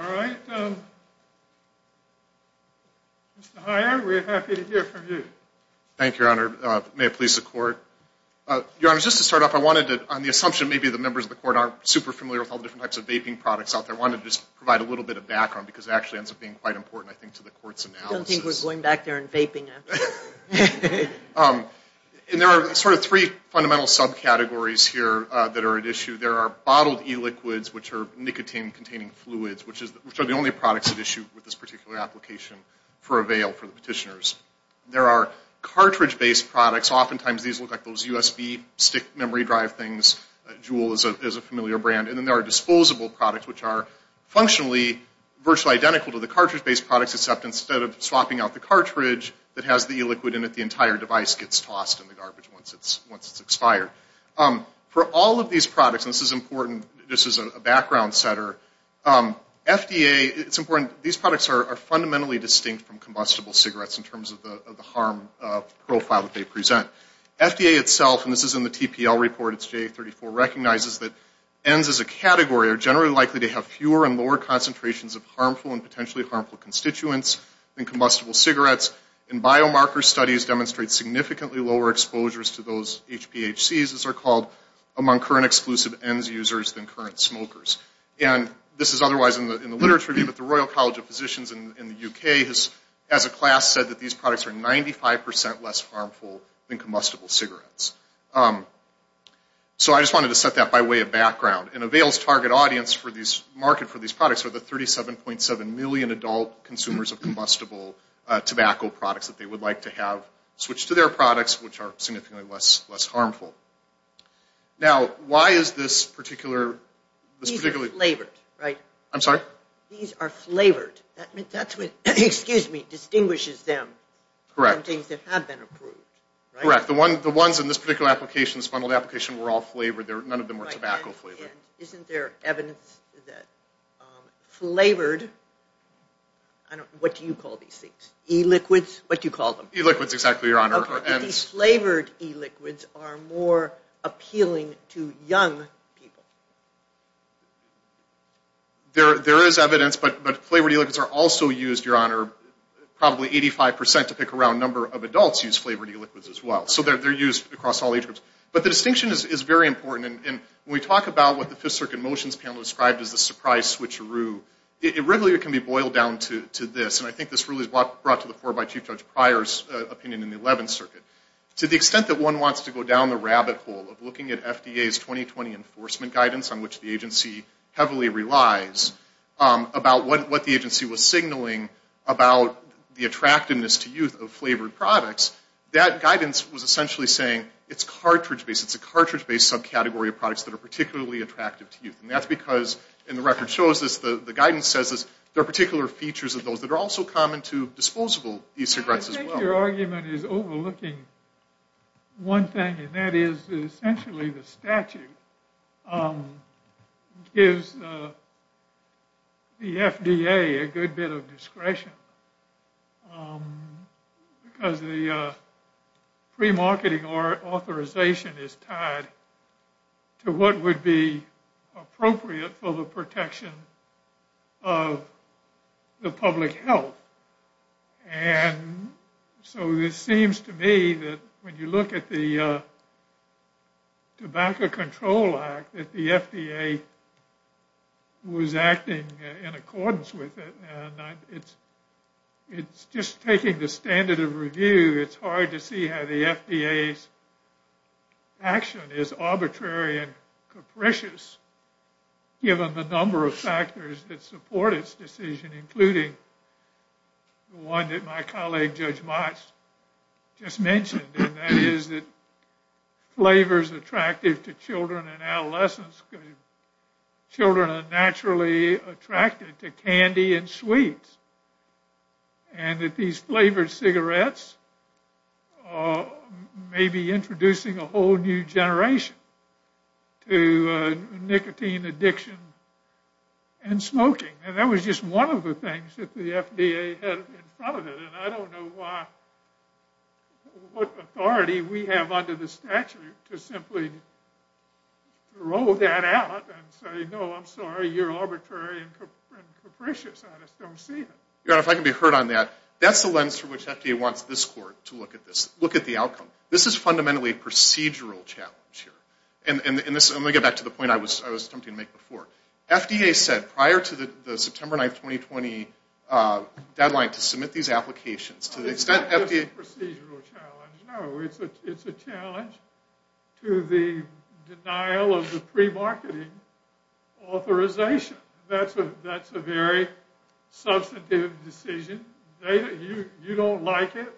All right. Mr. Heyer, we're happy to hear from you. Thank you, Your Honor. May it please the Court. Your Honor, just to start off, I wanted to, on the assumption maybe the members of the Court aren't super familiar with all the different types of vaping products out there, I wanted to just provide a little bit of background because it actually ends up being quite important, I think, to the Court's analysis. I don't think we're going back there and vaping after this. And there are sort of three fundamental subcategories here that are at issue. There are bottled e-liquids, which are nicotine-containing fluids, which are the only products at issue with this particular application for avail for the petitioners. There are cartridge-based products. Oftentimes these look like those USB stick memory drive things. Juul is a familiar brand. And then there are disposable products, which are functionally virtually identical to the cartridge-based products, except instead of swapping out the cartridge that has the e-liquid in it, the entire device gets tossed in the garbage once it's expired. For all of these products, and this is important, this is a background setter, FDA, it's important, these products are fundamentally distinct from combustible cigarettes in terms of the harm profile that they present. FDA itself, and this is in the TPL report, it's J34, recognizes that N's as a category are generally likely to have fewer and lower concentrations of harmful and potentially harmful constituents than combustible cigarettes. And biomarker studies demonstrate significantly lower exposures to those HPHCs, as they're called, among current exclusive N's users than current smokers. And this is otherwise in the literature, but the Royal College of Physicians in the UK has, as a class, said that these products are 95% less harmful than combustible cigarettes. So I just wanted to set that by way of background. And avails target audience for these, market for these products are the 37.7 million adult consumers of combustible tobacco products that they would like to have switched to their products, which are significantly less harmful. Now, why is this particular... These are flavored, right? I'm sorry? These are flavored. That's what, excuse me, distinguishes them from things that have been approved, right? Correct. The ones in this particular application, this bundled application, were all flavored. None of them were tobacco flavored. And isn't there evidence that flavored... What do you call these things? E-liquids? What do you call them? E-liquids, exactly, Your Honor. Okay, but these flavored E-liquids are more appealing to young people. There is evidence, but flavored E-liquids are also used, Your Honor, probably 85% to pick a round number of adults use flavored E-liquids as well. So they're used across all age groups. But the distinction is very important. And when we talk about what the Fifth Circuit Motions Panel described as the surprise switcheroo, it really can be boiled down to this. And I think this really is brought to the fore by Chief Judge Pryor's opinion in the Eleventh Circuit. To the extent that one wants to go down the rabbit hole of looking at FDA's 2020 enforcement guidance, on which the agency heavily relies, about what the agency was signaling about the attractiveness to youth of flavored products, that guidance was essentially saying it's cartridge-based. It's a cartridge-based subcategory of products that are particularly attractive to youth. And that's because, and the record shows this, the guidance says this, there are particular features of those that are also common to disposable e-cigarettes as well. I guess your argument is overlooking one thing, and that is essentially the statute gives the FDA a good bit of discretion. Because the pre-marketing authorization is tied to what would be appropriate for the protection of the public health. And so it seems to me that when you look at the Tobacco Control Act, that the FDA was acting in accordance with it. It's just taking the standard of review, it's hard to see how the FDA's action is arbitrary and capricious, given the number of factors that support its decision, including the one that my colleague, Judge Motz, just mentioned. And that is that flavors attractive to children and adolescents, because children are naturally attracted to candy and sweets. And that these flavored cigarettes may be introducing a whole new generation to nicotine addiction and smoking. And that was just one of the things that the FDA had in front of it. And I don't know what authority we have under the statute to simply throw that out and say, Your Honor, if I can be heard on that, that's the lens through which FDA wants this court to look at this. Look at the outcome. This is fundamentally a procedural challenge here. And let me get back to the point I was attempting to make before. FDA said prior to the September 9, 2020, deadline to submit these applications to the extent FDA... It's not just a procedural challenge, no. It's a challenge to the denial of the pre-marketing authorization. That's a very substantive decision. You don't like it.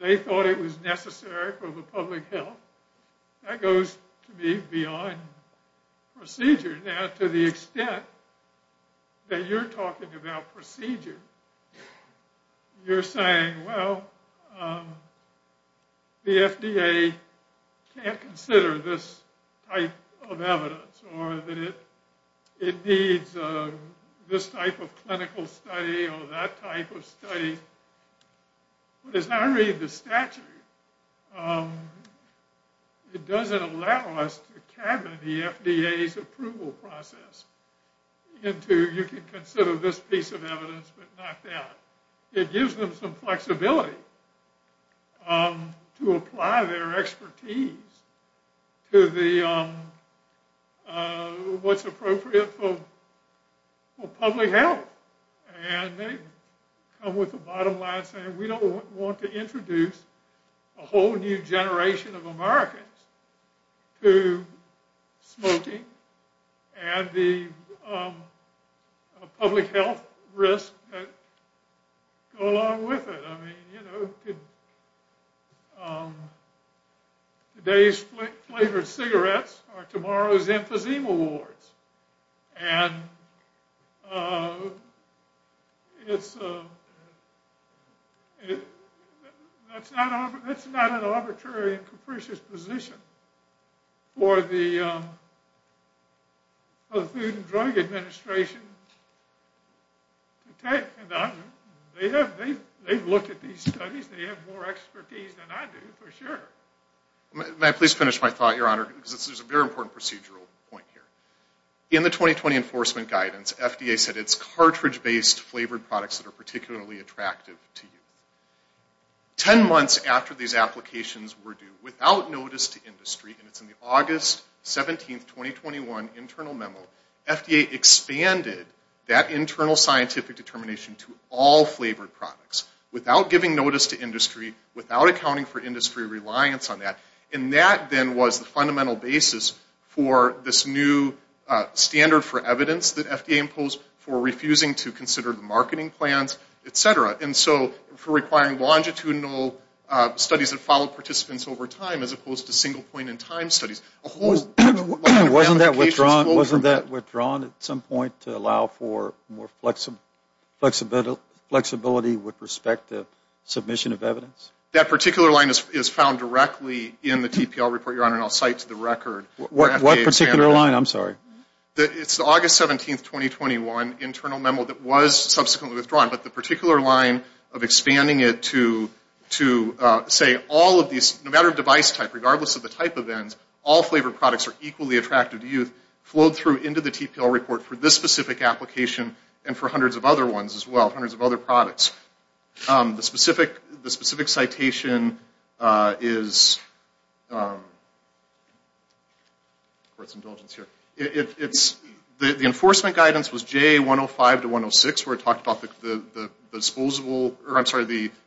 They thought it was necessary for the public health. That goes to me beyond procedure. Now, to the extent that you're talking about procedure, you're saying, Well, the FDA can't consider this type of evidence or that it needs this type of clinical study or that type of study. But as I read the statute, it doesn't allow us to cabinet the FDA's approval process into, You can consider this piece of evidence, but not that. It gives them some flexibility to apply their expertise to what's appropriate for public health. And they come with a bottom line saying we don't want to introduce a whole new generation of Americans to smoking and the public health risks that go along with it. I mean, you know, today's flavored cigarettes are tomorrow's emphysema wards. And it's not an arbitrary and capricious position for the Food and Drug Administration to take. They've looked at these studies. They have more expertise than I do, for sure. May I please finish my thought, Your Honor, because this is a very important procedural point here. In the 2020 enforcement guidance, FDA said it's cartridge-based flavored products that are particularly attractive to youth. Ten months after these applications were due, without notice to industry, and it's in the August 17, 2021, internal memo, FDA expanded that internal scientific determination to all flavored products, without giving notice to industry, without accounting for industry reliance on that. And that then was the fundamental basis for this new standard for evidence that FDA imposed for refusing to consider the marketing plans, et cetera, and so for requiring longitudinal studies that follow participants over time, as opposed to single point in time studies. Wasn't that withdrawn at some point to allow for more flexibility with respect to submission of evidence? That particular line is found directly in the TPL report, Your Honor, and I'll cite to the record. What particular line? I'm sorry. It's the August 17, 2021, internal memo that was subsequently withdrawn, but the particular line of expanding it to, say, all of these, no matter of device type, regardless of the type of ends, all flavored products are equally attractive to youth, flowed through into the TPL report for this specific application, and for hundreds of other ones as well, hundreds of other products. The specific citation is, of course, indulgence here. The enforcement guidance was JA 105 to 106, where it talked about the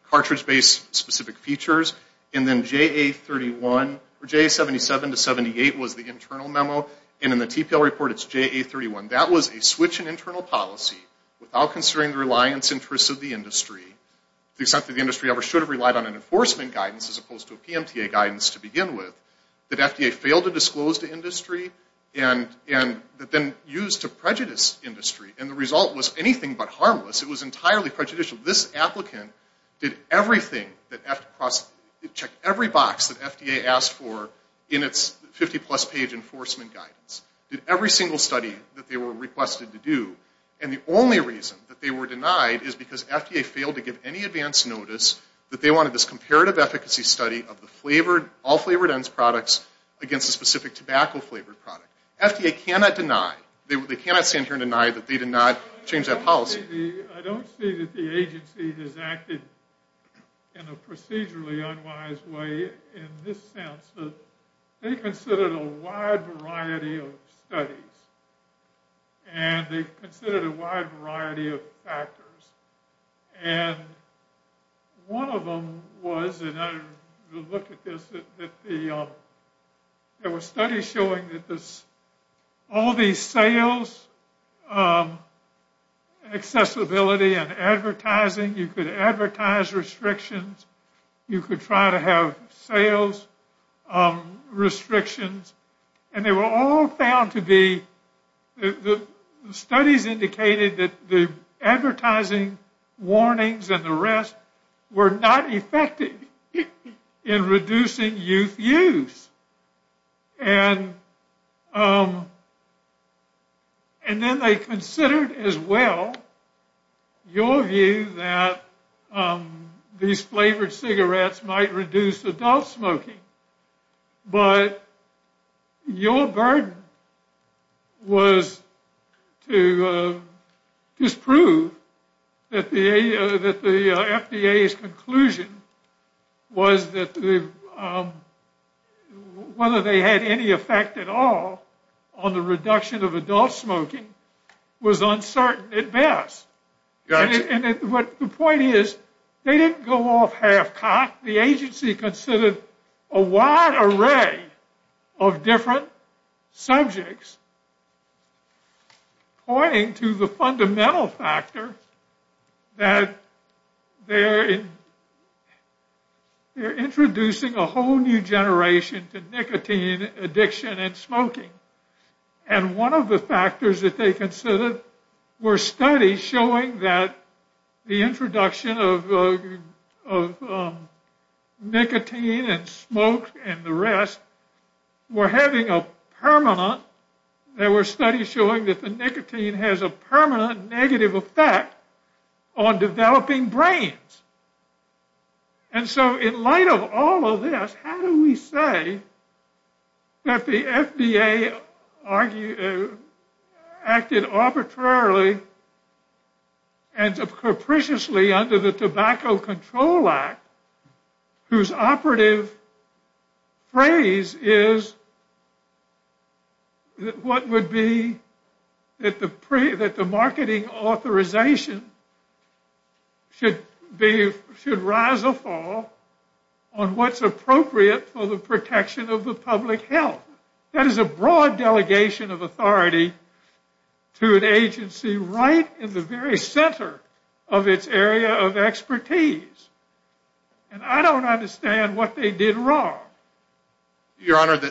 cartridge-based specific features, and then JA 77 to 78 was the internal memo, and in the TPL report it's JA 31. That was a switch in internal policy without considering the reliance interests of the industry, to the extent that the industry ever should have relied on an enforcement guidance as opposed to a PMTA guidance to begin with, that FDA failed to disclose to industry, and that then used to prejudice industry, and the result was anything but harmless. It was entirely prejudicial. This applicant did everything, checked every box that FDA asked for in its 50-plus page enforcement guidance, did every single study that they were requested to do, and the only reason that they were denied is because FDA failed to give any advance notice that they wanted this comparative efficacy study of all flavored ends products against a specific tobacco-flavored product. FDA cannot deny, they cannot stand here and deny that they did not change that policy. I don't see that the agency has acted in a procedurally unwise way in this sense. They considered a wide variety of studies, and they considered a wide variety of factors, and one of them was, and I looked at this, there were studies showing that all these sales, accessibility and advertising, you could advertise restrictions, you could try to have sales restrictions, and they were all found to be, the studies indicated that the advertising warnings and the rest were not effective in reducing youth use, and then they considered as well your view that these flavored cigarettes might reduce adult smoking, but your burden was to disprove that the FDA's conclusion was that whether they had any effect at all on the reduction of adult smoking was uncertain at best. And the point is, they didn't go off half-cocked. The agency considered a wide array of different subjects pointing to the fundamental factor that they're introducing a whole new generation to nicotine addiction and smoking, and one of the factors that they considered were studies showing that the introduction of nicotine and smoke and the rest were having a permanent, there were studies showing that the nicotine has a permanent negative effect on developing brains. And so in light of all of this, how do we say that the FDA acted arbitrarily and capriciously under the Tobacco Control Act, whose operative phrase is, what would be, that the marketing authorization should rise or fall on what's appropriate for the protection of the public health? That is a broad delegation of authority to an agency right in the very center of its area of expertise, and I don't understand what they did wrong. Your Honor,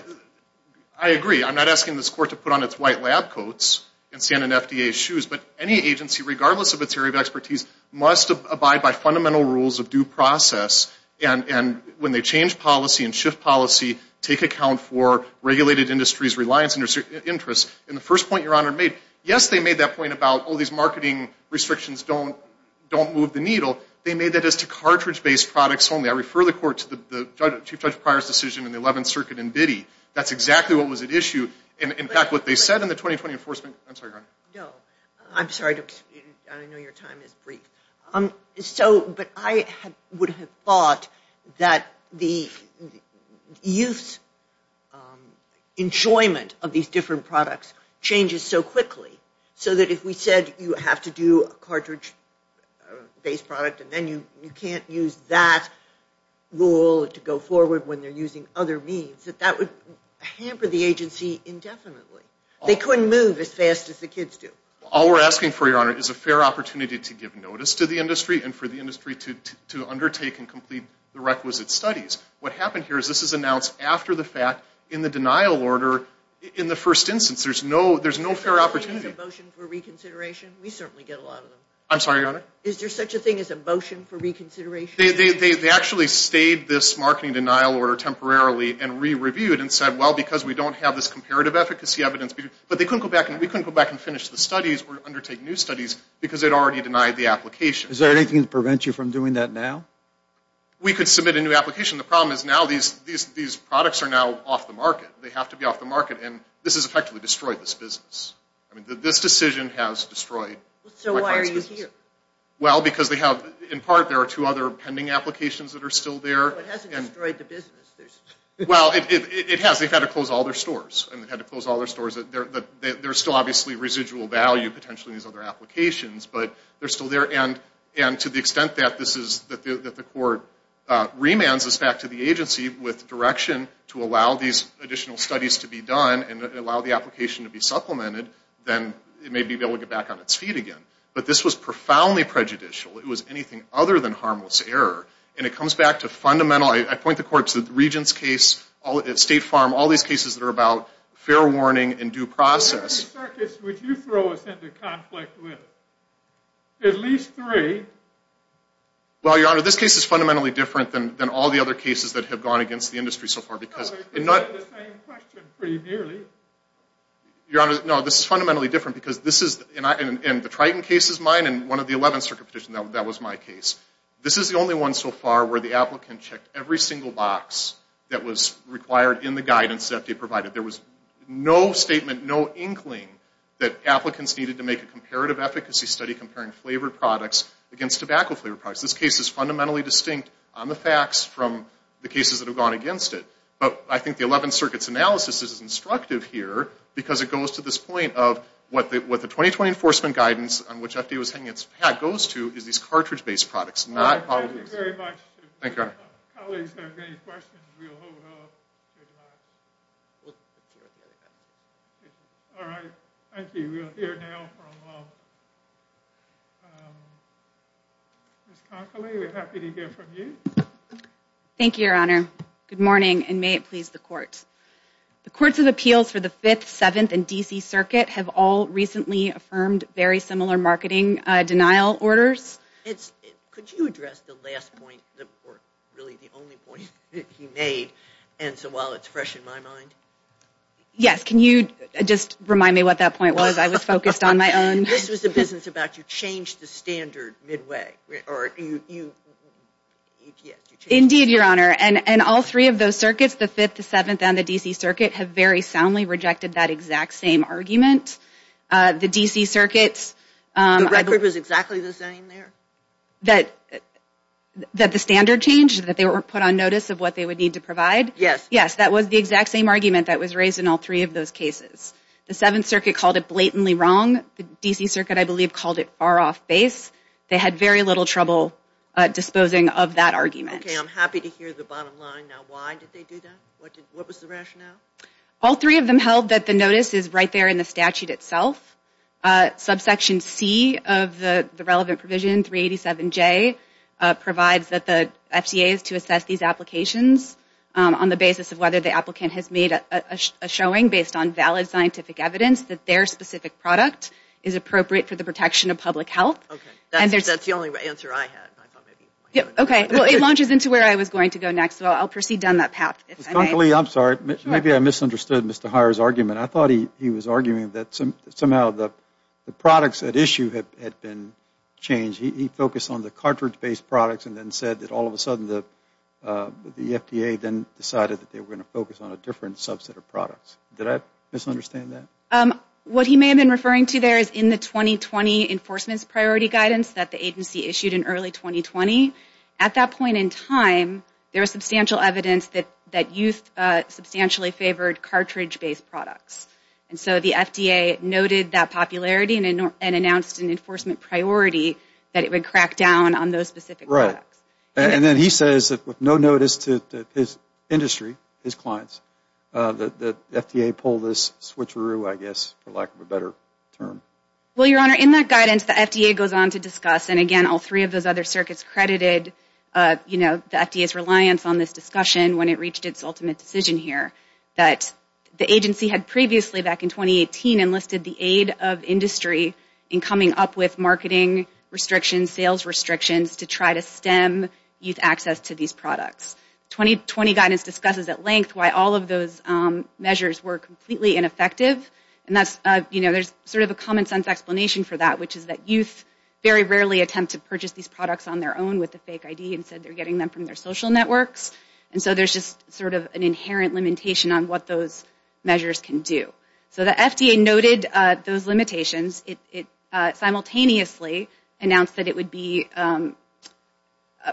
I agree. I'm not asking this Court to put on its white lab coats and stand in FDA's shoes, but any agency, regardless of its area of expertise, must abide by fundamental rules of due process and when they change policy and shift policy, take account for regulated industries' reliance interests. And the first point Your Honor made, yes, they made that point about, oh, these marketing restrictions don't move the needle. They made that as to cartridge-based products only. I refer the Court to the Chief Judge Pryor's decision in the 11th Circuit in Biddy. That's exactly what was at issue. In fact, what they said in the 2020 Enforcement… I'm sorry, Your Honor. No, I'm sorry. I know your time is brief. But I would have thought that the use, enjoyment of these different products changes so quickly, so that if we said you have to do a cartridge-based product and then you can't use that rule to go forward when they're using other means, that that would hamper the agency indefinitely. They couldn't move as fast as the kids do. All we're asking for, Your Honor, is a fair opportunity to give notice to the industry and for the industry to undertake and complete the requisite studies. What happened here is this is announced after the fact in the denial order in the first instance. There's no fair opportunity. Is there such a thing as a motion for reconsideration? We certainly get a lot of them. I'm sorry, Your Honor. Is there such a thing as a motion for reconsideration? They actually stayed this marketing denial order temporarily and re-reviewed and said, well, because we don't have this comparative efficacy evidence. But we couldn't go back and finish the studies or undertake new studies because they'd already denied the application. Is there anything to prevent you from doing that now? We could submit a new application. The problem is now these products are now off the market. They have to be off the market, and this has effectively destroyed this business. This decision has destroyed my client's business. So why are you here? Well, because in part there are two other pending applications that are still there. It hasn't destroyed the business. Well, it has. They've had to close all their stores. They've had to close all their stores. There's still obviously residual value potentially in these other applications, but they're still there. And to the extent that the court remands this back to the agency with direction to allow these additional studies to be done and allow the application to be supplemented, then it may be able to get back on its feet again. But this was profoundly prejudicial. It was anything other than harmless error, and it comes back to fundamental. I point the court to the Regents' case, State Farm, all these cases that are about fair warning and due process. How many circuits would you throw us into conflict with? At least three. Well, Your Honor, this case is fundamentally different than all the other cases that have gone against the industry so far. It's the same question pretty nearly. Your Honor, no, this is fundamentally different, and the Triton case is mine and one of the 11 circuit petitions, that was my case. This is the only one so far where the applicant checked every single box that was required in the guidance that they provided. There was no statement, no inkling that applicants needed to make a comparative efficacy study comparing flavored products against tobacco flavored products. This case is fundamentally distinct on the facts from the cases that have gone against it. But I think the 11 circuits analysis is instructive here because it goes to this point of what the 2020 enforcement guidance on which FDA was hanging its hat goes to is these cartridge-based products, not all of these. Thank you very much. Thank you, Your Honor. Colleagues, if you have any questions, we'll hold off. All right, thank you. We will hear now from Ms. Conkley. We're happy to hear from you. Thank you, Your Honor. Good morning, and may it please the Court. The courts of appeals for the Fifth, Seventh, and D.C. Circuit have all recently affirmed very similar marketing denial orders. Could you address the last point, or really the only point he made, and so while it's fresh in my mind? Yes, can you just remind me what that point was? I was focused on my own. This was the business about you changed the standard midway. Indeed, Your Honor. And all three of those circuits, the Fifth, the Seventh, and the D.C. Circuit, have very soundly rejected that exact same argument. The D.C. Circuit's – The record was exactly the same there? That the standard changed, that they were put on notice of what they would need to provide? Yes. Yes, that was the exact same argument that was raised in all three of those cases. The Seventh Circuit called it blatantly wrong. The D.C. Circuit, I believe, called it far off base. They had very little trouble disposing of that argument. Okay, I'm happy to hear the bottom line now. Why did they do that? What was the rationale? All three of them held that the notice is right there in the statute itself. Subsection C of the relevant provision, 387J, provides that the FCA is to assess these applications on the basis of whether the applicant has made a showing based on valid scientific evidence that their specific product is appropriate for the protection of public health. That's the only answer I had. Okay, well, it launches into where I was going to go next, so I'll proceed down that path. Ms. Conkley, I'm sorry. Maybe I misunderstood Mr. Heyer's argument. I thought he was arguing that somehow the products at issue had been changed. He focused on the cartridge-based products and then said that all of a sudden the FDA then decided that they were going to focus on a different subset of products. Did I misunderstand that? What he may have been referring to there is in the 2020 enforcement's priority guidance that the agency issued in early 2020. At that point in time, there was substantial evidence that youth substantially favored cartridge-based products. And so the FDA noted that popularity and announced an enforcement priority that it would crack down on those specific products. And then he says that with no notice to his industry, his clients, that the FDA pulled this switcheroo, I guess, for lack of a better term. Well, Your Honor, in that guidance, the FDA goes on to discuss, and again, all three of those other circuits credited the FDA's reliance on this discussion when it reached its ultimate decision here, that the agency had previously back in 2018 enlisted the aid of industry in coming up with marketing restrictions, sales restrictions to try to stem youth access to these products. 2020 guidance discusses at length why all of those measures were completely ineffective. And there's sort of a common-sense explanation for that, which is that youth very rarely attempt to purchase these products on their own with a fake ID, instead they're getting them from their social networks. And so there's just sort of an inherent limitation on what those measures can do. So the FDA noted those limitations. It simultaneously announced that it would be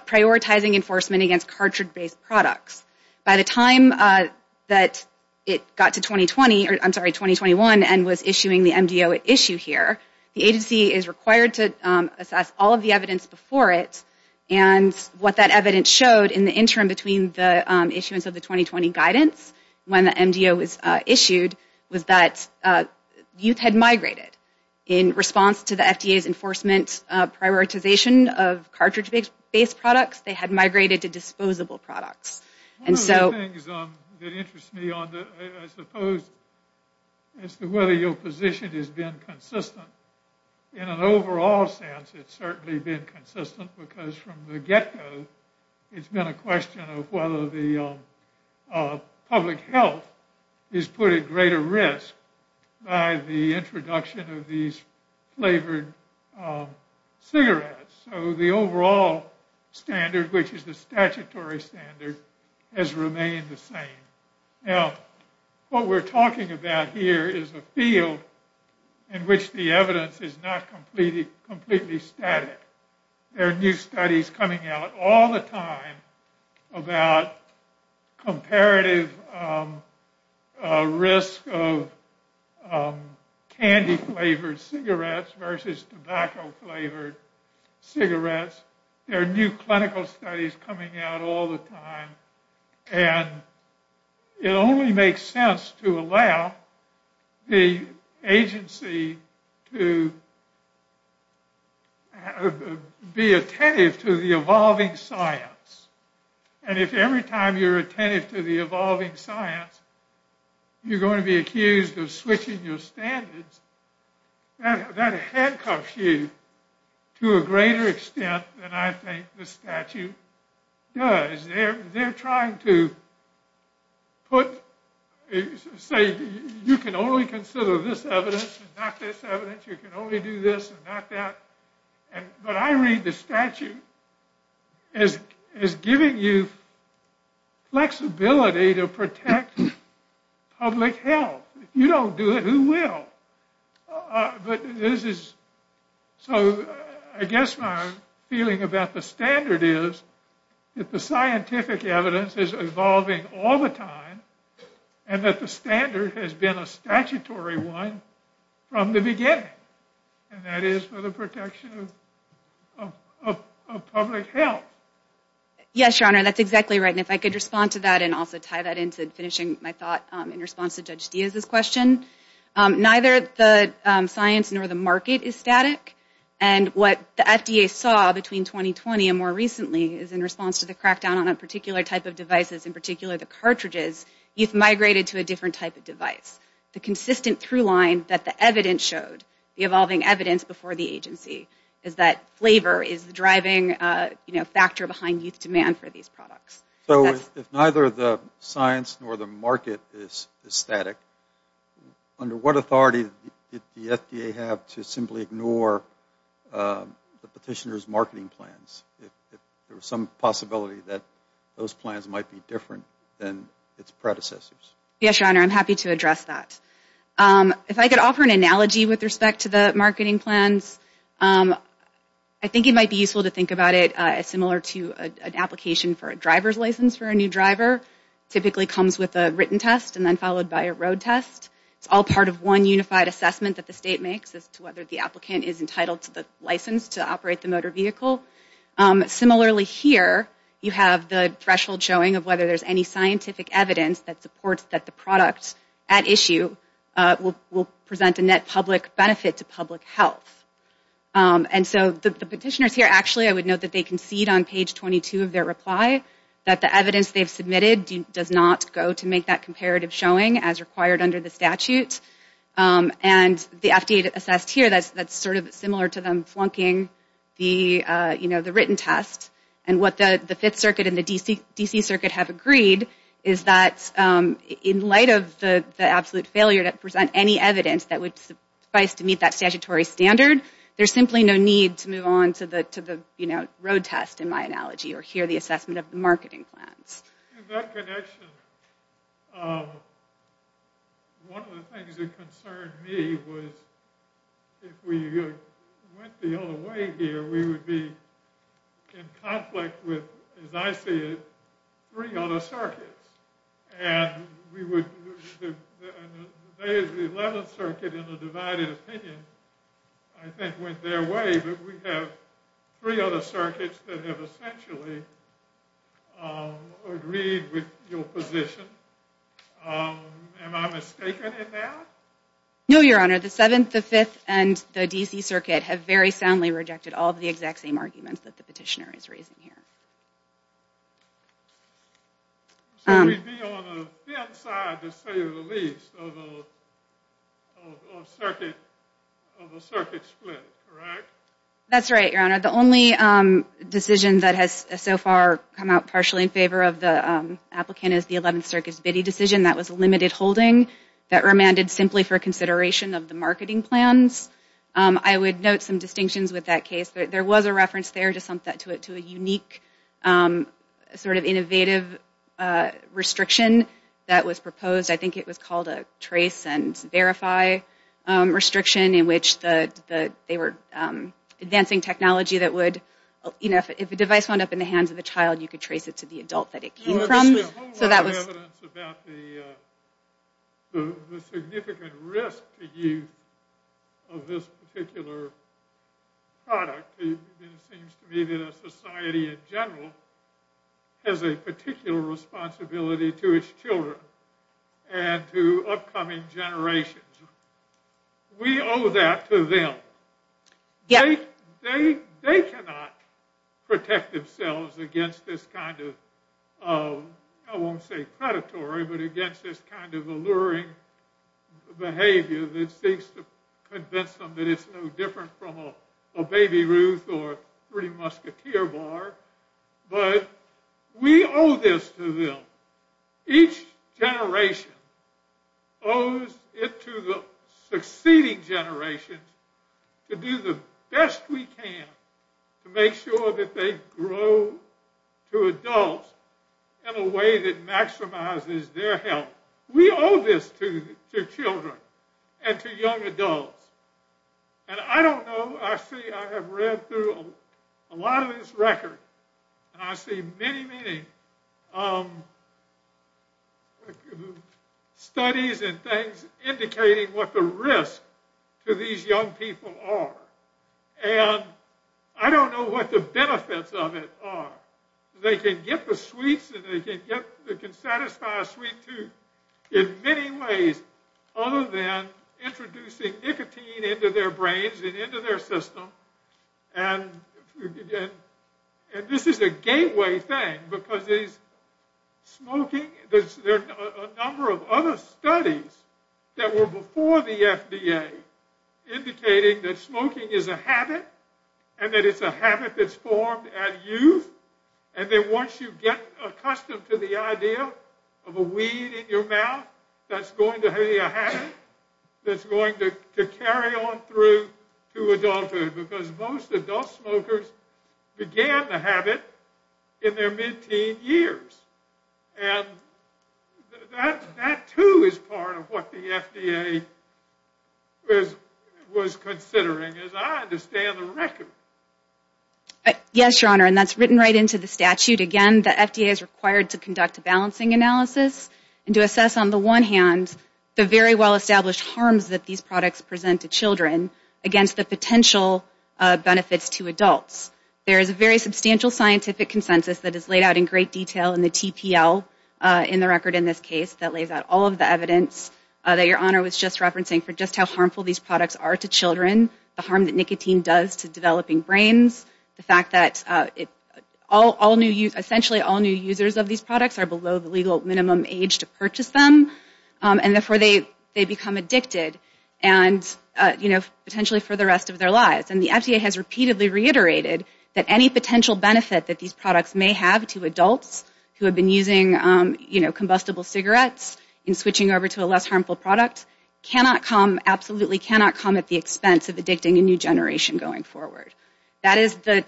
prioritizing enforcement against cartridge-based products. By the time that it got to 2020, or I'm sorry, 2021, and was issuing the MDO issue here, the agency is required to assess all of the evidence before it, and what that evidence showed in the interim between the issuance of the 2020 guidance and when the MDO was issued was that youth had migrated in response to the FDA's enforcement prioritization of cartridge-based products. They had migrated to disposable products. One of the things that interests me, I suppose, as to whether your position has been consistent, in an overall sense it's certainly been consistent because from the get-go it's been a question of whether the public health is put at greater risk by the introduction of these flavored cigarettes. So the overall standard, which is the statutory standard, has remained the same. Now, what we're talking about here is a field in which the evidence is not completely static. There are new studies coming out all the time about comparative risk of candy-flavored cigarettes versus tobacco-flavored cigarettes. There are new clinical studies coming out all the time, and it only makes sense to allow the agency to be attentive to the evolving science. And if every time you're attentive to the evolving science, you're going to be accused of switching your standards, that handcuffs you to a greater extent than I think the statute does. Because they're trying to say, you can only consider this evidence and not this evidence, you can only do this and not that. But I read the statute as giving you flexibility to protect public health. If you don't do it, who will? But this is, so I guess my feeling about the standard is that the scientific evidence is evolving all the time, and that the standard has been a statutory one from the beginning. And that is for the protection of public health. Yes, Your Honor, that's exactly right. And if I could respond to that and also tie that into finishing my thought in response to Judge Diaz's question, neither the science nor the market is static. And what the FDA saw between 2020 and more recently is, in response to the crackdown on a particular type of devices, in particular the cartridges, youth migrated to a different type of device. The consistent through-line that the evidence showed, the evolving evidence before the agency, is that flavor is the driving factor behind youth demand for these products. So if neither the science nor the market is static, under what authority did the FDA have to simply ignore the petitioner's marketing plans, if there was some possibility that those plans might be different than its predecessors? Yes, Your Honor, I'm happy to address that. If I could offer an analogy with respect to the marketing plans, I think it might be useful to think about it as similar to an application for a driver's license for a new driver. It typically comes with a written test and then followed by a road test. It's all part of one unified assessment that the state makes as to whether the applicant is entitled to the license to operate the motor vehicle. Similarly here, you have the threshold showing of whether there's any scientific evidence that supports that the product at issue will present a net public benefit to public health. And so the petitioners here, actually I would note that they concede on page 22 of their reply that the evidence they've submitted does not go to make that comparative showing as required under the statute. And the FDA assessed here, that's sort of similar to them flunking the written test. And what the Fifth Circuit and the D.C. Circuit have agreed is that in light of the absolute failure to present any evidence that would suffice to meet that statutory standard, there's simply no need to move on to the road test in my analogy or hear the assessment of the marketing plans. In that connection, one of the things that concerned me was if we went the other way here, we would be in conflict with, as I see it, three other circuits. And the 11th Circuit in a divided opinion I think went their way, but we have three other circuits that have essentially agreed with your position. Am I mistaken in that? No, Your Honor. The Seventh, the Fifth, and the D.C. Circuit have very soundly rejected all of the exact same arguments that the petitioner is raising here. So we'd be on a thin side to say the least of a circuit split, correct? That's right, Your Honor. The only decision that has so far come out partially in favor of the applicant is the 11th Circuit's Biddy decision. That was a limited holding that remanded simply for consideration of the marketing plans. I would note some distinctions with that case. There was a reference there to a unique sort of innovative restriction that was proposed. I think it was called a trace and verify restriction in which they were advancing technology that would, if a device wound up in the hands of a child, you could trace it to the adult that it came from. There's been a whole lot of evidence about the significant risk to youth of this particular product. It seems to me that a society in general has a particular responsibility to its children and to upcoming generations. We owe that to them. They cannot protect themselves against this kind of, I won't say predatory, but against this kind of alluring behavior that seeks to convince them that it's no different from a Baby Ruth or a pretty musketeer bar. But we owe this to them. Each generation owes it to the succeeding generations to do the best we can to make sure that they grow to adults in a way that maximizes their health. We owe this to children and to young adults. And I don't know, I see, I have read through a lot of this record and I see many, many studies and things indicating what the risk to these young people are. And I don't know what the benefits of it are. They can get the sweets and they can satisfy a sweet tooth in many ways other than introducing nicotine into their brains and into their system and this is a gateway thing because smoking, there are a number of other studies that were before the FDA indicating that smoking is a habit and that it's a habit that's formed at youth and that once you get accustomed to the idea of a weed in your mouth, that's going to be a habit that's going to carry on through to adulthood because most adult smokers began the habit in their mid-teen years. And that too is part of what the FDA was considering as I understand the record. Yes, Your Honor, and that's written right into the statute. Again, the FDA is required to conduct a balancing analysis and to assess on the one hand the very well-established harms that these products present to children against the potential benefits to adults. There is a very substantial scientific consensus that is laid out in great detail in the TPL in the record in this case that lays out all of the evidence that Your Honor was just referencing for just how harmful these products are to children, the harm that nicotine does to developing brains, the fact that essentially all new users of these products are below the legal minimum age to purchase them and therefore they become addicted and potentially for the rest of their lives. And the FDA has repeatedly reiterated that any potential benefit that these products may have to adults who have been using combustible cigarettes in switching over to a less harmful product absolutely cannot come at the expense of addicting a new generation going forward. That is the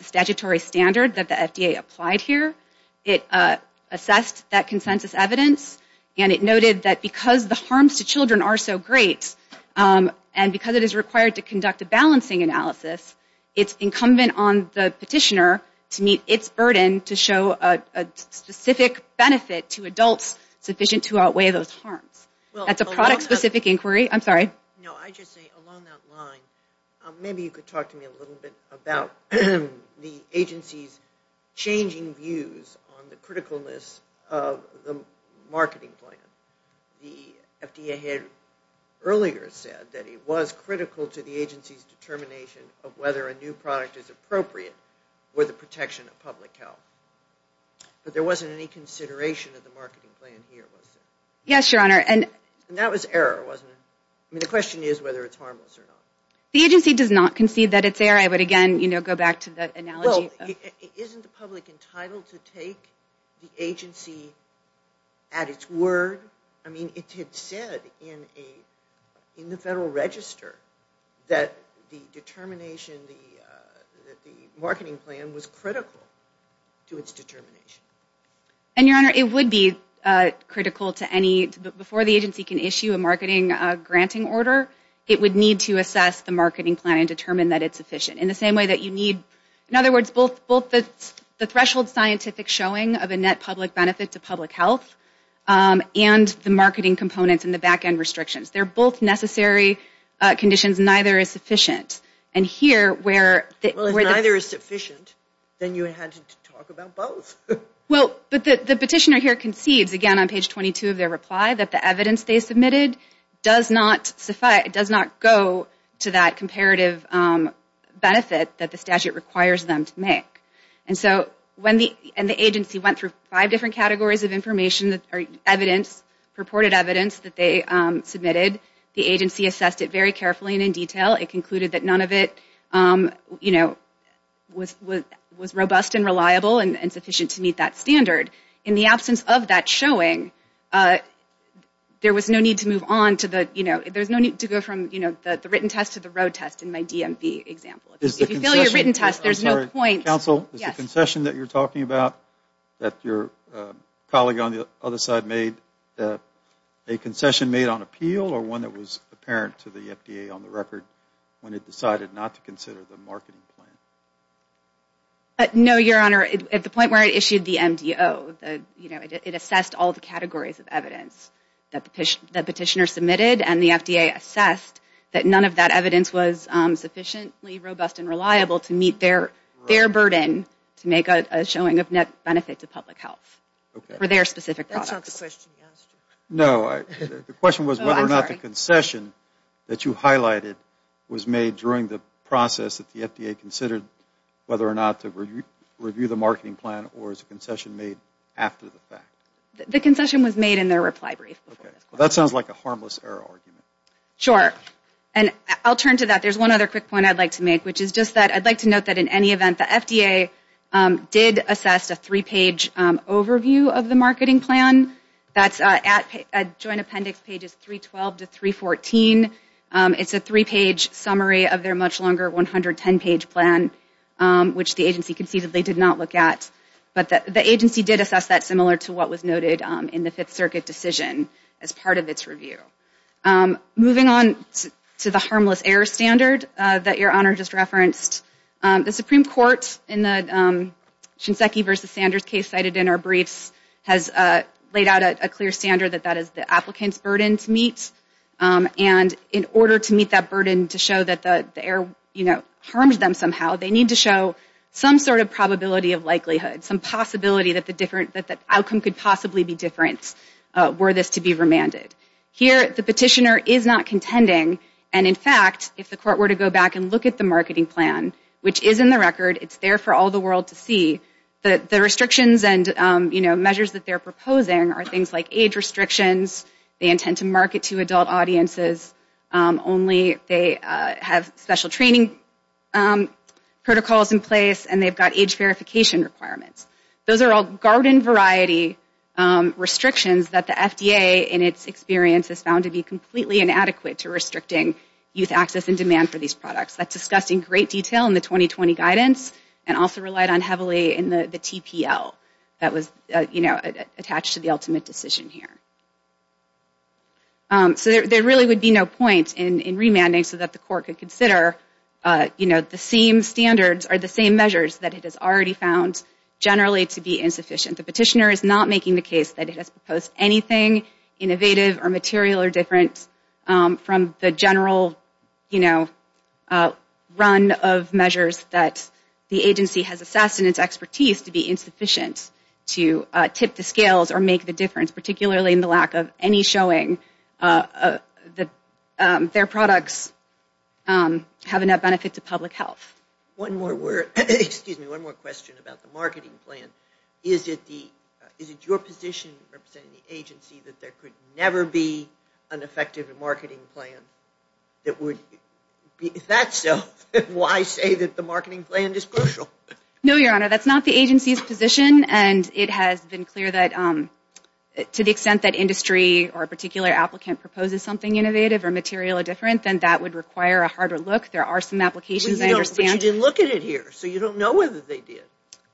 statutory standard that the FDA applied here. It assessed that consensus evidence and it noted that because the harms to children are so great and because it is required to conduct a balancing analysis, it's incumbent on the petitioner to meet its burden to show a specific benefit to adults sufficient to outweigh those harms. That's a product-specific inquiry. I'm sorry. No, I just say along that line maybe you could talk to me a little bit about the agency's changing views on the criticalness of the marketing plan. The FDA had earlier said that it was critical to the agency's determination of whether a new product is appropriate for the protection of public health. But there wasn't any consideration of the marketing plan here, was there? Yes, Your Honor. And that was error, wasn't it? I mean the question is whether it's harmless or not. The agency does not concede that it's error. I would again, you know, go back to the analogy. Well, isn't the public entitled to take the agency at its word? I mean it had said in the Federal Register that the determination, the marketing plan was critical to its determination. And Your Honor, it would be critical to any, before the agency can issue a marketing granting order, it would need to assess the marketing plan and determine that it's efficient. In the same way that you need, in other words, both the threshold scientific showing of a net public benefit to public health and the marketing components and the back-end restrictions. They're both necessary conditions, neither is sufficient. And here where the- Well, if neither is sufficient, then you had to talk about both. Well, but the petitioner here concedes, again on page 22 of their reply, that the evidence they submitted does not go to that comparative benefit that the statute requires them to make. And so when the agency went through five different categories of information or evidence, purported evidence that they submitted, the agency assessed it very carefully and in detail. It concluded that none of it, you know, was robust and reliable and sufficient to meet that standard. In the absence of that showing, there was no need to move on to the, you know, there's no need to go from, you know, the written test to the road test in my DMV example. If you fill your written test, there's no point. Counsel, is the concession that you're talking about that your colleague on the other side made a concession made on appeal or one that was apparent to the FDA on the record when it decided not to consider the marketing plan? No, Your Honor. At the point where it issued the MDO, you know, it assessed all the categories of evidence that the petitioner submitted and the FDA assessed that none of that evidence was sufficiently robust and reliable to meet their burden to make a showing of net benefit to public health for their specific products. That's not the question you asked. No, the question was whether or not the concession that you highlighted was made during the process that the FDA considered whether or not to review the marketing plan or is the concession made after the fact? The concession was made in their reply brief. Okay. Well, that sounds like a harmless error argument. Sure. And I'll turn to that. There's one other quick point I'd like to make, which is just that I'd like to note that in any event the FDA did assess a three-page overview of the marketing plan. That's at joint appendix pages 312 to 314. It's a three-page summary of their much longer 110-page plan, which the agency conceivably did not look at. But the agency did assess that similar to what was noted in the Fifth Circuit decision as part of its review. Moving on to the harmless error standard that Your Honor just referenced, the Supreme Court in the Shinseki versus Sanders case cited in our briefs has laid And in order to meet that burden to show that the error harmed them somehow, they need to show some sort of probability of likelihood, some possibility that the outcome could possibly be different were this to be remanded. Here the petitioner is not contending. And, in fact, if the court were to go back and look at the marketing plan, which is in the record, it's there for all the world to see, the restrictions and measures that they're proposing are things like age restrictions, they intend to market to adult audiences only, they have special training protocols in place, and they've got age verification requirements. Those are all garden variety restrictions that the FDA, in its experience, has found to be completely inadequate to restricting youth access and demand for these products. That's discussed in great detail in the 2020 guidance and also relied on heavily in the TPL that was attached to the ultimate decision here. So there really would be no point in remanding so that the court could consider the same standards or the same measures that it has already found generally to be insufficient. The petitioner is not making the case that it has proposed anything innovative or material or different from the general, you know, run of measures that the agency has assessed and its expertise to be insufficient to tip the scales or make the difference, particularly in the lack of any showing that their products have enough benefit to public health. One more word, excuse me, one more question about the marketing plan. Is it your position, representing the agency, that there could never be an effective marketing plan that would, if that's so, why say that the marketing plan is crucial? No, Your Honor, that's not the agency's position, and it has been clear that to the extent that industry or a particular applicant proposes something innovative or material or different, then that would require a harder look. There are some applications, I understand. But you didn't look at it here, so you don't know whether they did.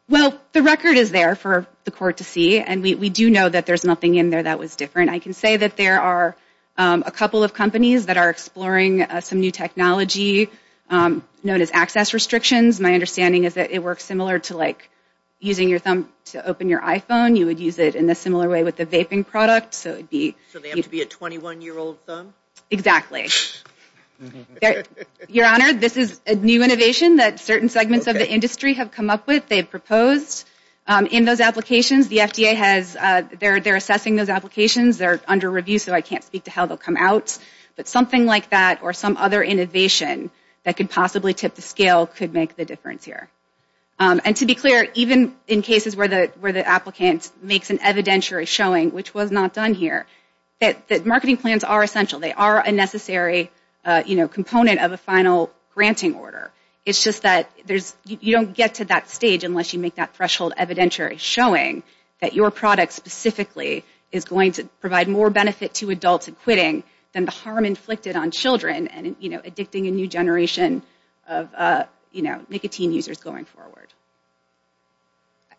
Well, the record is there for the court to see, and we do know that there's nothing in there that was different. I can say that there are a couple of companies that are exploring some new technology known as access restrictions. My understanding is that it works similar to, like, using your thumb to open your iPhone. You would use it in a similar way with a vaping product. So they have to be a 21-year-old thumb? Exactly. Your Honor, this is a new innovation that certain segments of the industry have come up with. They've proposed in those applications. The FDA has they're assessing those applications. They're under review, so I can't speak to how they'll come out. But something like that or some other innovation that could possibly tip the scale could make the difference here. And to be clear, even in cases where the applicant makes an evidentiary showing, which was not done here, that marketing plans are essential. They are a necessary, you know, component of a final granting order. It's just that you don't get to that stage unless you make that threshold evidentiary showing that your product specifically is going to provide more benefit to adults acquitting than the harm inflicted on children and, you know, addicting a new generation of, you know, nicotine users going forward.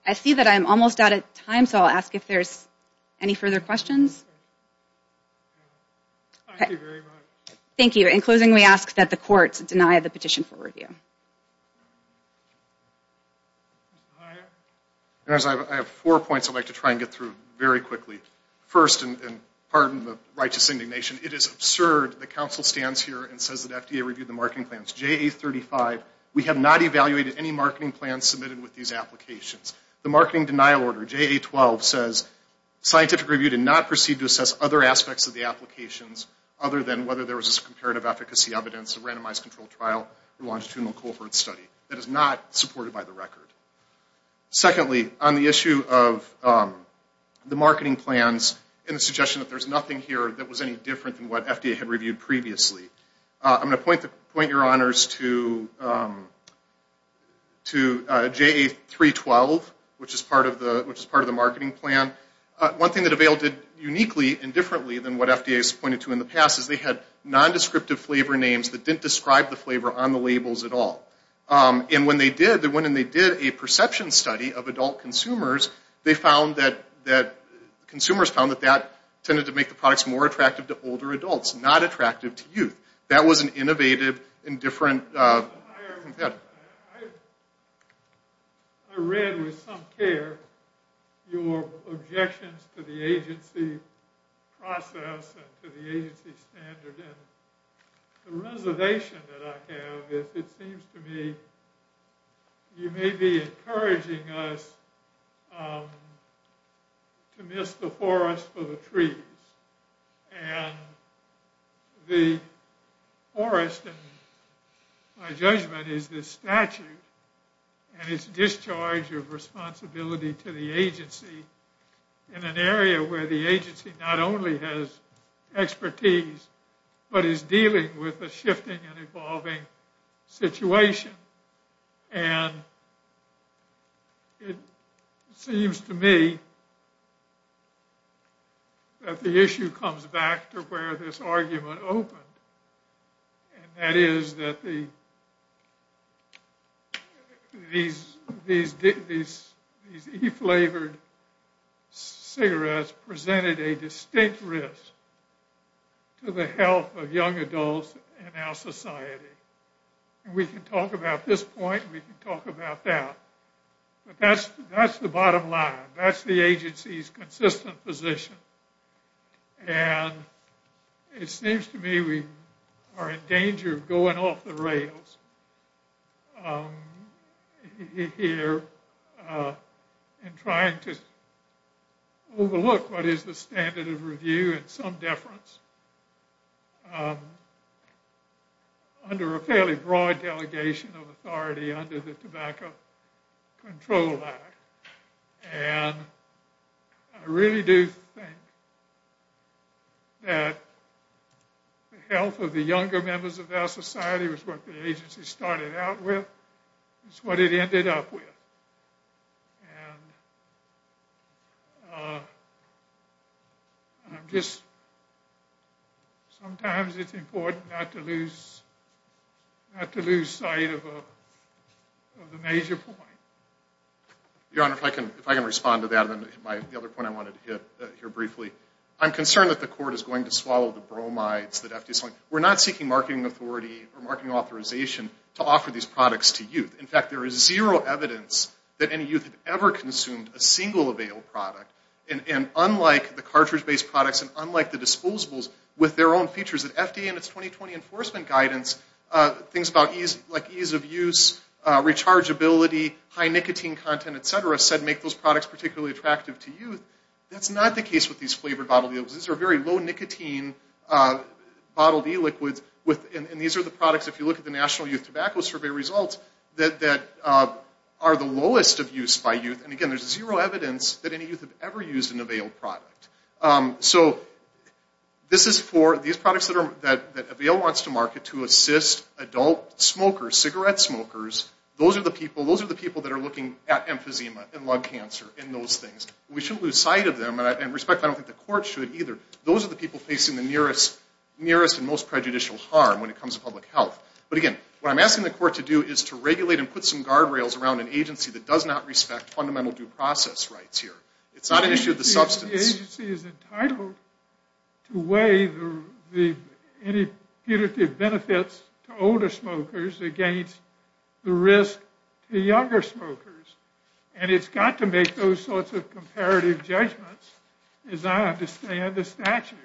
I see that I'm almost out of time, so I'll ask if there's any further questions. Thank you very much. Thank you. In closing, we ask that the courts deny the petition for review. I have four points I'd like to try and get through very quickly. First, and pardon the righteous indignation, it is absurd that counsel stands here and says that FDA reviewed the marketing plans. JA35, we have not evaluated any marketing plans submitted with these applications. The marketing denial order, JA12, says scientific review did not proceed to assess other aspects of the applications other than whether there was a comparative efficacy evidence of randomized controlled trial or longitudinal cohort study. That is not supported by the record. Secondly, on the issue of the marketing plans and the suggestion that there's nothing here that was any different than what FDA had reviewed previously, I'm going to point your honors to JA312, which is part of the marketing plan. One thing that Avail did uniquely and differently than what FDA has pointed to in the past is they had nondescriptive flavor names that didn't describe the flavor on the labels at all. And when they did, they went and they did a perception study of adult consumers. They found that consumers found that that tended to make the products more attractive to older adults, not attractive to youth. That was an innovative and different... I read with some care your objections to the agency process and to the agency standard. And the reservation that I have is it seems to me you may be encouraging us to miss the forest for the trees. And the forest, in my judgment, is this statute. And it's discharge of responsibility to the agency in an area where the agency not only has expertise, but is dealing with a shifting and evolving situation. And it seems to me that the issue comes back to where this argument opened. And that is that these e-flavored cigarettes presented a distinct risk to the health of young adults in our society. And we can talk about this point and we can talk about that. But that's the bottom line. That's the agency's consistent position. And it seems to me we are in danger of going off the rails here and trying to overlook what is the standard of review and some deference under a fairly broad delegation of authority under the Tobacco Control Act. And I really do think that the health of the younger members of our society was what the agency started out with. It's what it ended up with. And I'm just, sometimes it's important not to lose sight of the major point. Your Honor, if I can respond to that. The other point I wanted to hit here briefly. I'm concerned that the court is going to swallow the bromides. We're not seeking marketing authority or marketing authorization to offer these products to youth. In fact, there is zero evidence that any youth have ever consumed a single avail product. And unlike the cartridge-based products and unlike the disposables with their own features, the FDA and its 2020 enforcement guidance, things like ease of use, rechargeability, high nicotine content, et cetera, said make those products particularly attractive to youth. That's not the case with these flavored bottle deals. These are very low nicotine bottled e-liquids. And these are the products, if you look at the National Youth Tobacco Survey results, that are the lowest of use by youth. And again, there's zero evidence that any youth have ever used an avail product. So this is for these products that avail wants to market to assist adult smokers, cigarette smokers. Those are the people that are looking at emphysema and lung cancer and those things. We shouldn't lose sight of them. And respectfully, I don't think the court should either. Those are the people facing the nearest and most prejudicial harm when it comes to public health. But again, what I'm asking the court to do is to regulate and put some guardrails around an agency that does not respect fundamental due process rights here. It's not an issue of the substance. The agency is entitled to weigh the punitive benefits to older smokers against the risk to younger smokers. And it's got to make those sorts of comparative judgments, as I understand the statute.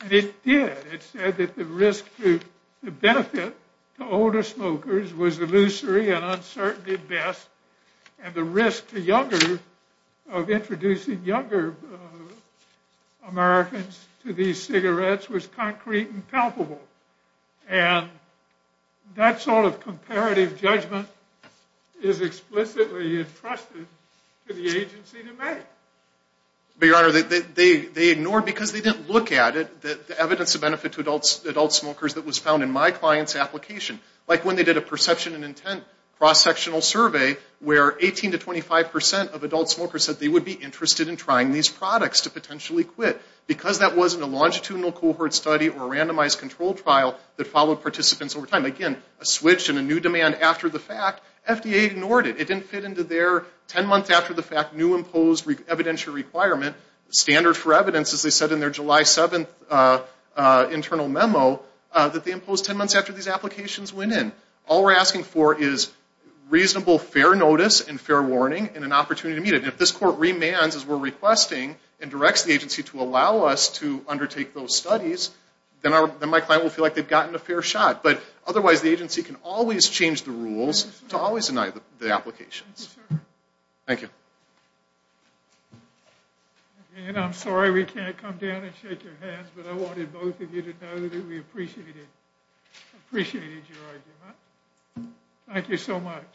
And it did. It said that the risk to benefit to older smokers was illusory and uncertain at best. And the risk to younger, of introducing younger Americans to these cigarettes was concrete and palpable. And that sort of comparative judgment is explicitly entrusted to the agency to make. But, Your Honor, they ignored, because they didn't look at it, the evidence of benefit to adult smokers that was found in my client's application. Like when they did a perception and intent cross-sectional survey where 18 to 25 percent of adult smokers said they would be interested in trying these products to potentially quit. Because that wasn't a longitudinal cohort study or a randomized control trial that followed participants over time. Again, a switch and a new demand after the fact, FDA ignored it. It didn't fit into their 10 months after the fact new imposed evidentiary requirement, standard for evidence, as they said in their July 7th internal memo, that they imposed 10 months after these applications went in. All we're asking for is reasonable, fair notice and fair warning and an opportunity to meet it. And if this court remands, as we're requesting, and directs the agency to allow us to undertake those studies, then my client will feel like they've gotten a fair shot. But otherwise, the agency can always change the rules to always deny the applications. Thank you, sir. Thank you. And I'm sorry we can't come down and shake your hands, but I wanted both of you to know that we appreciated your argument. Thank you so much.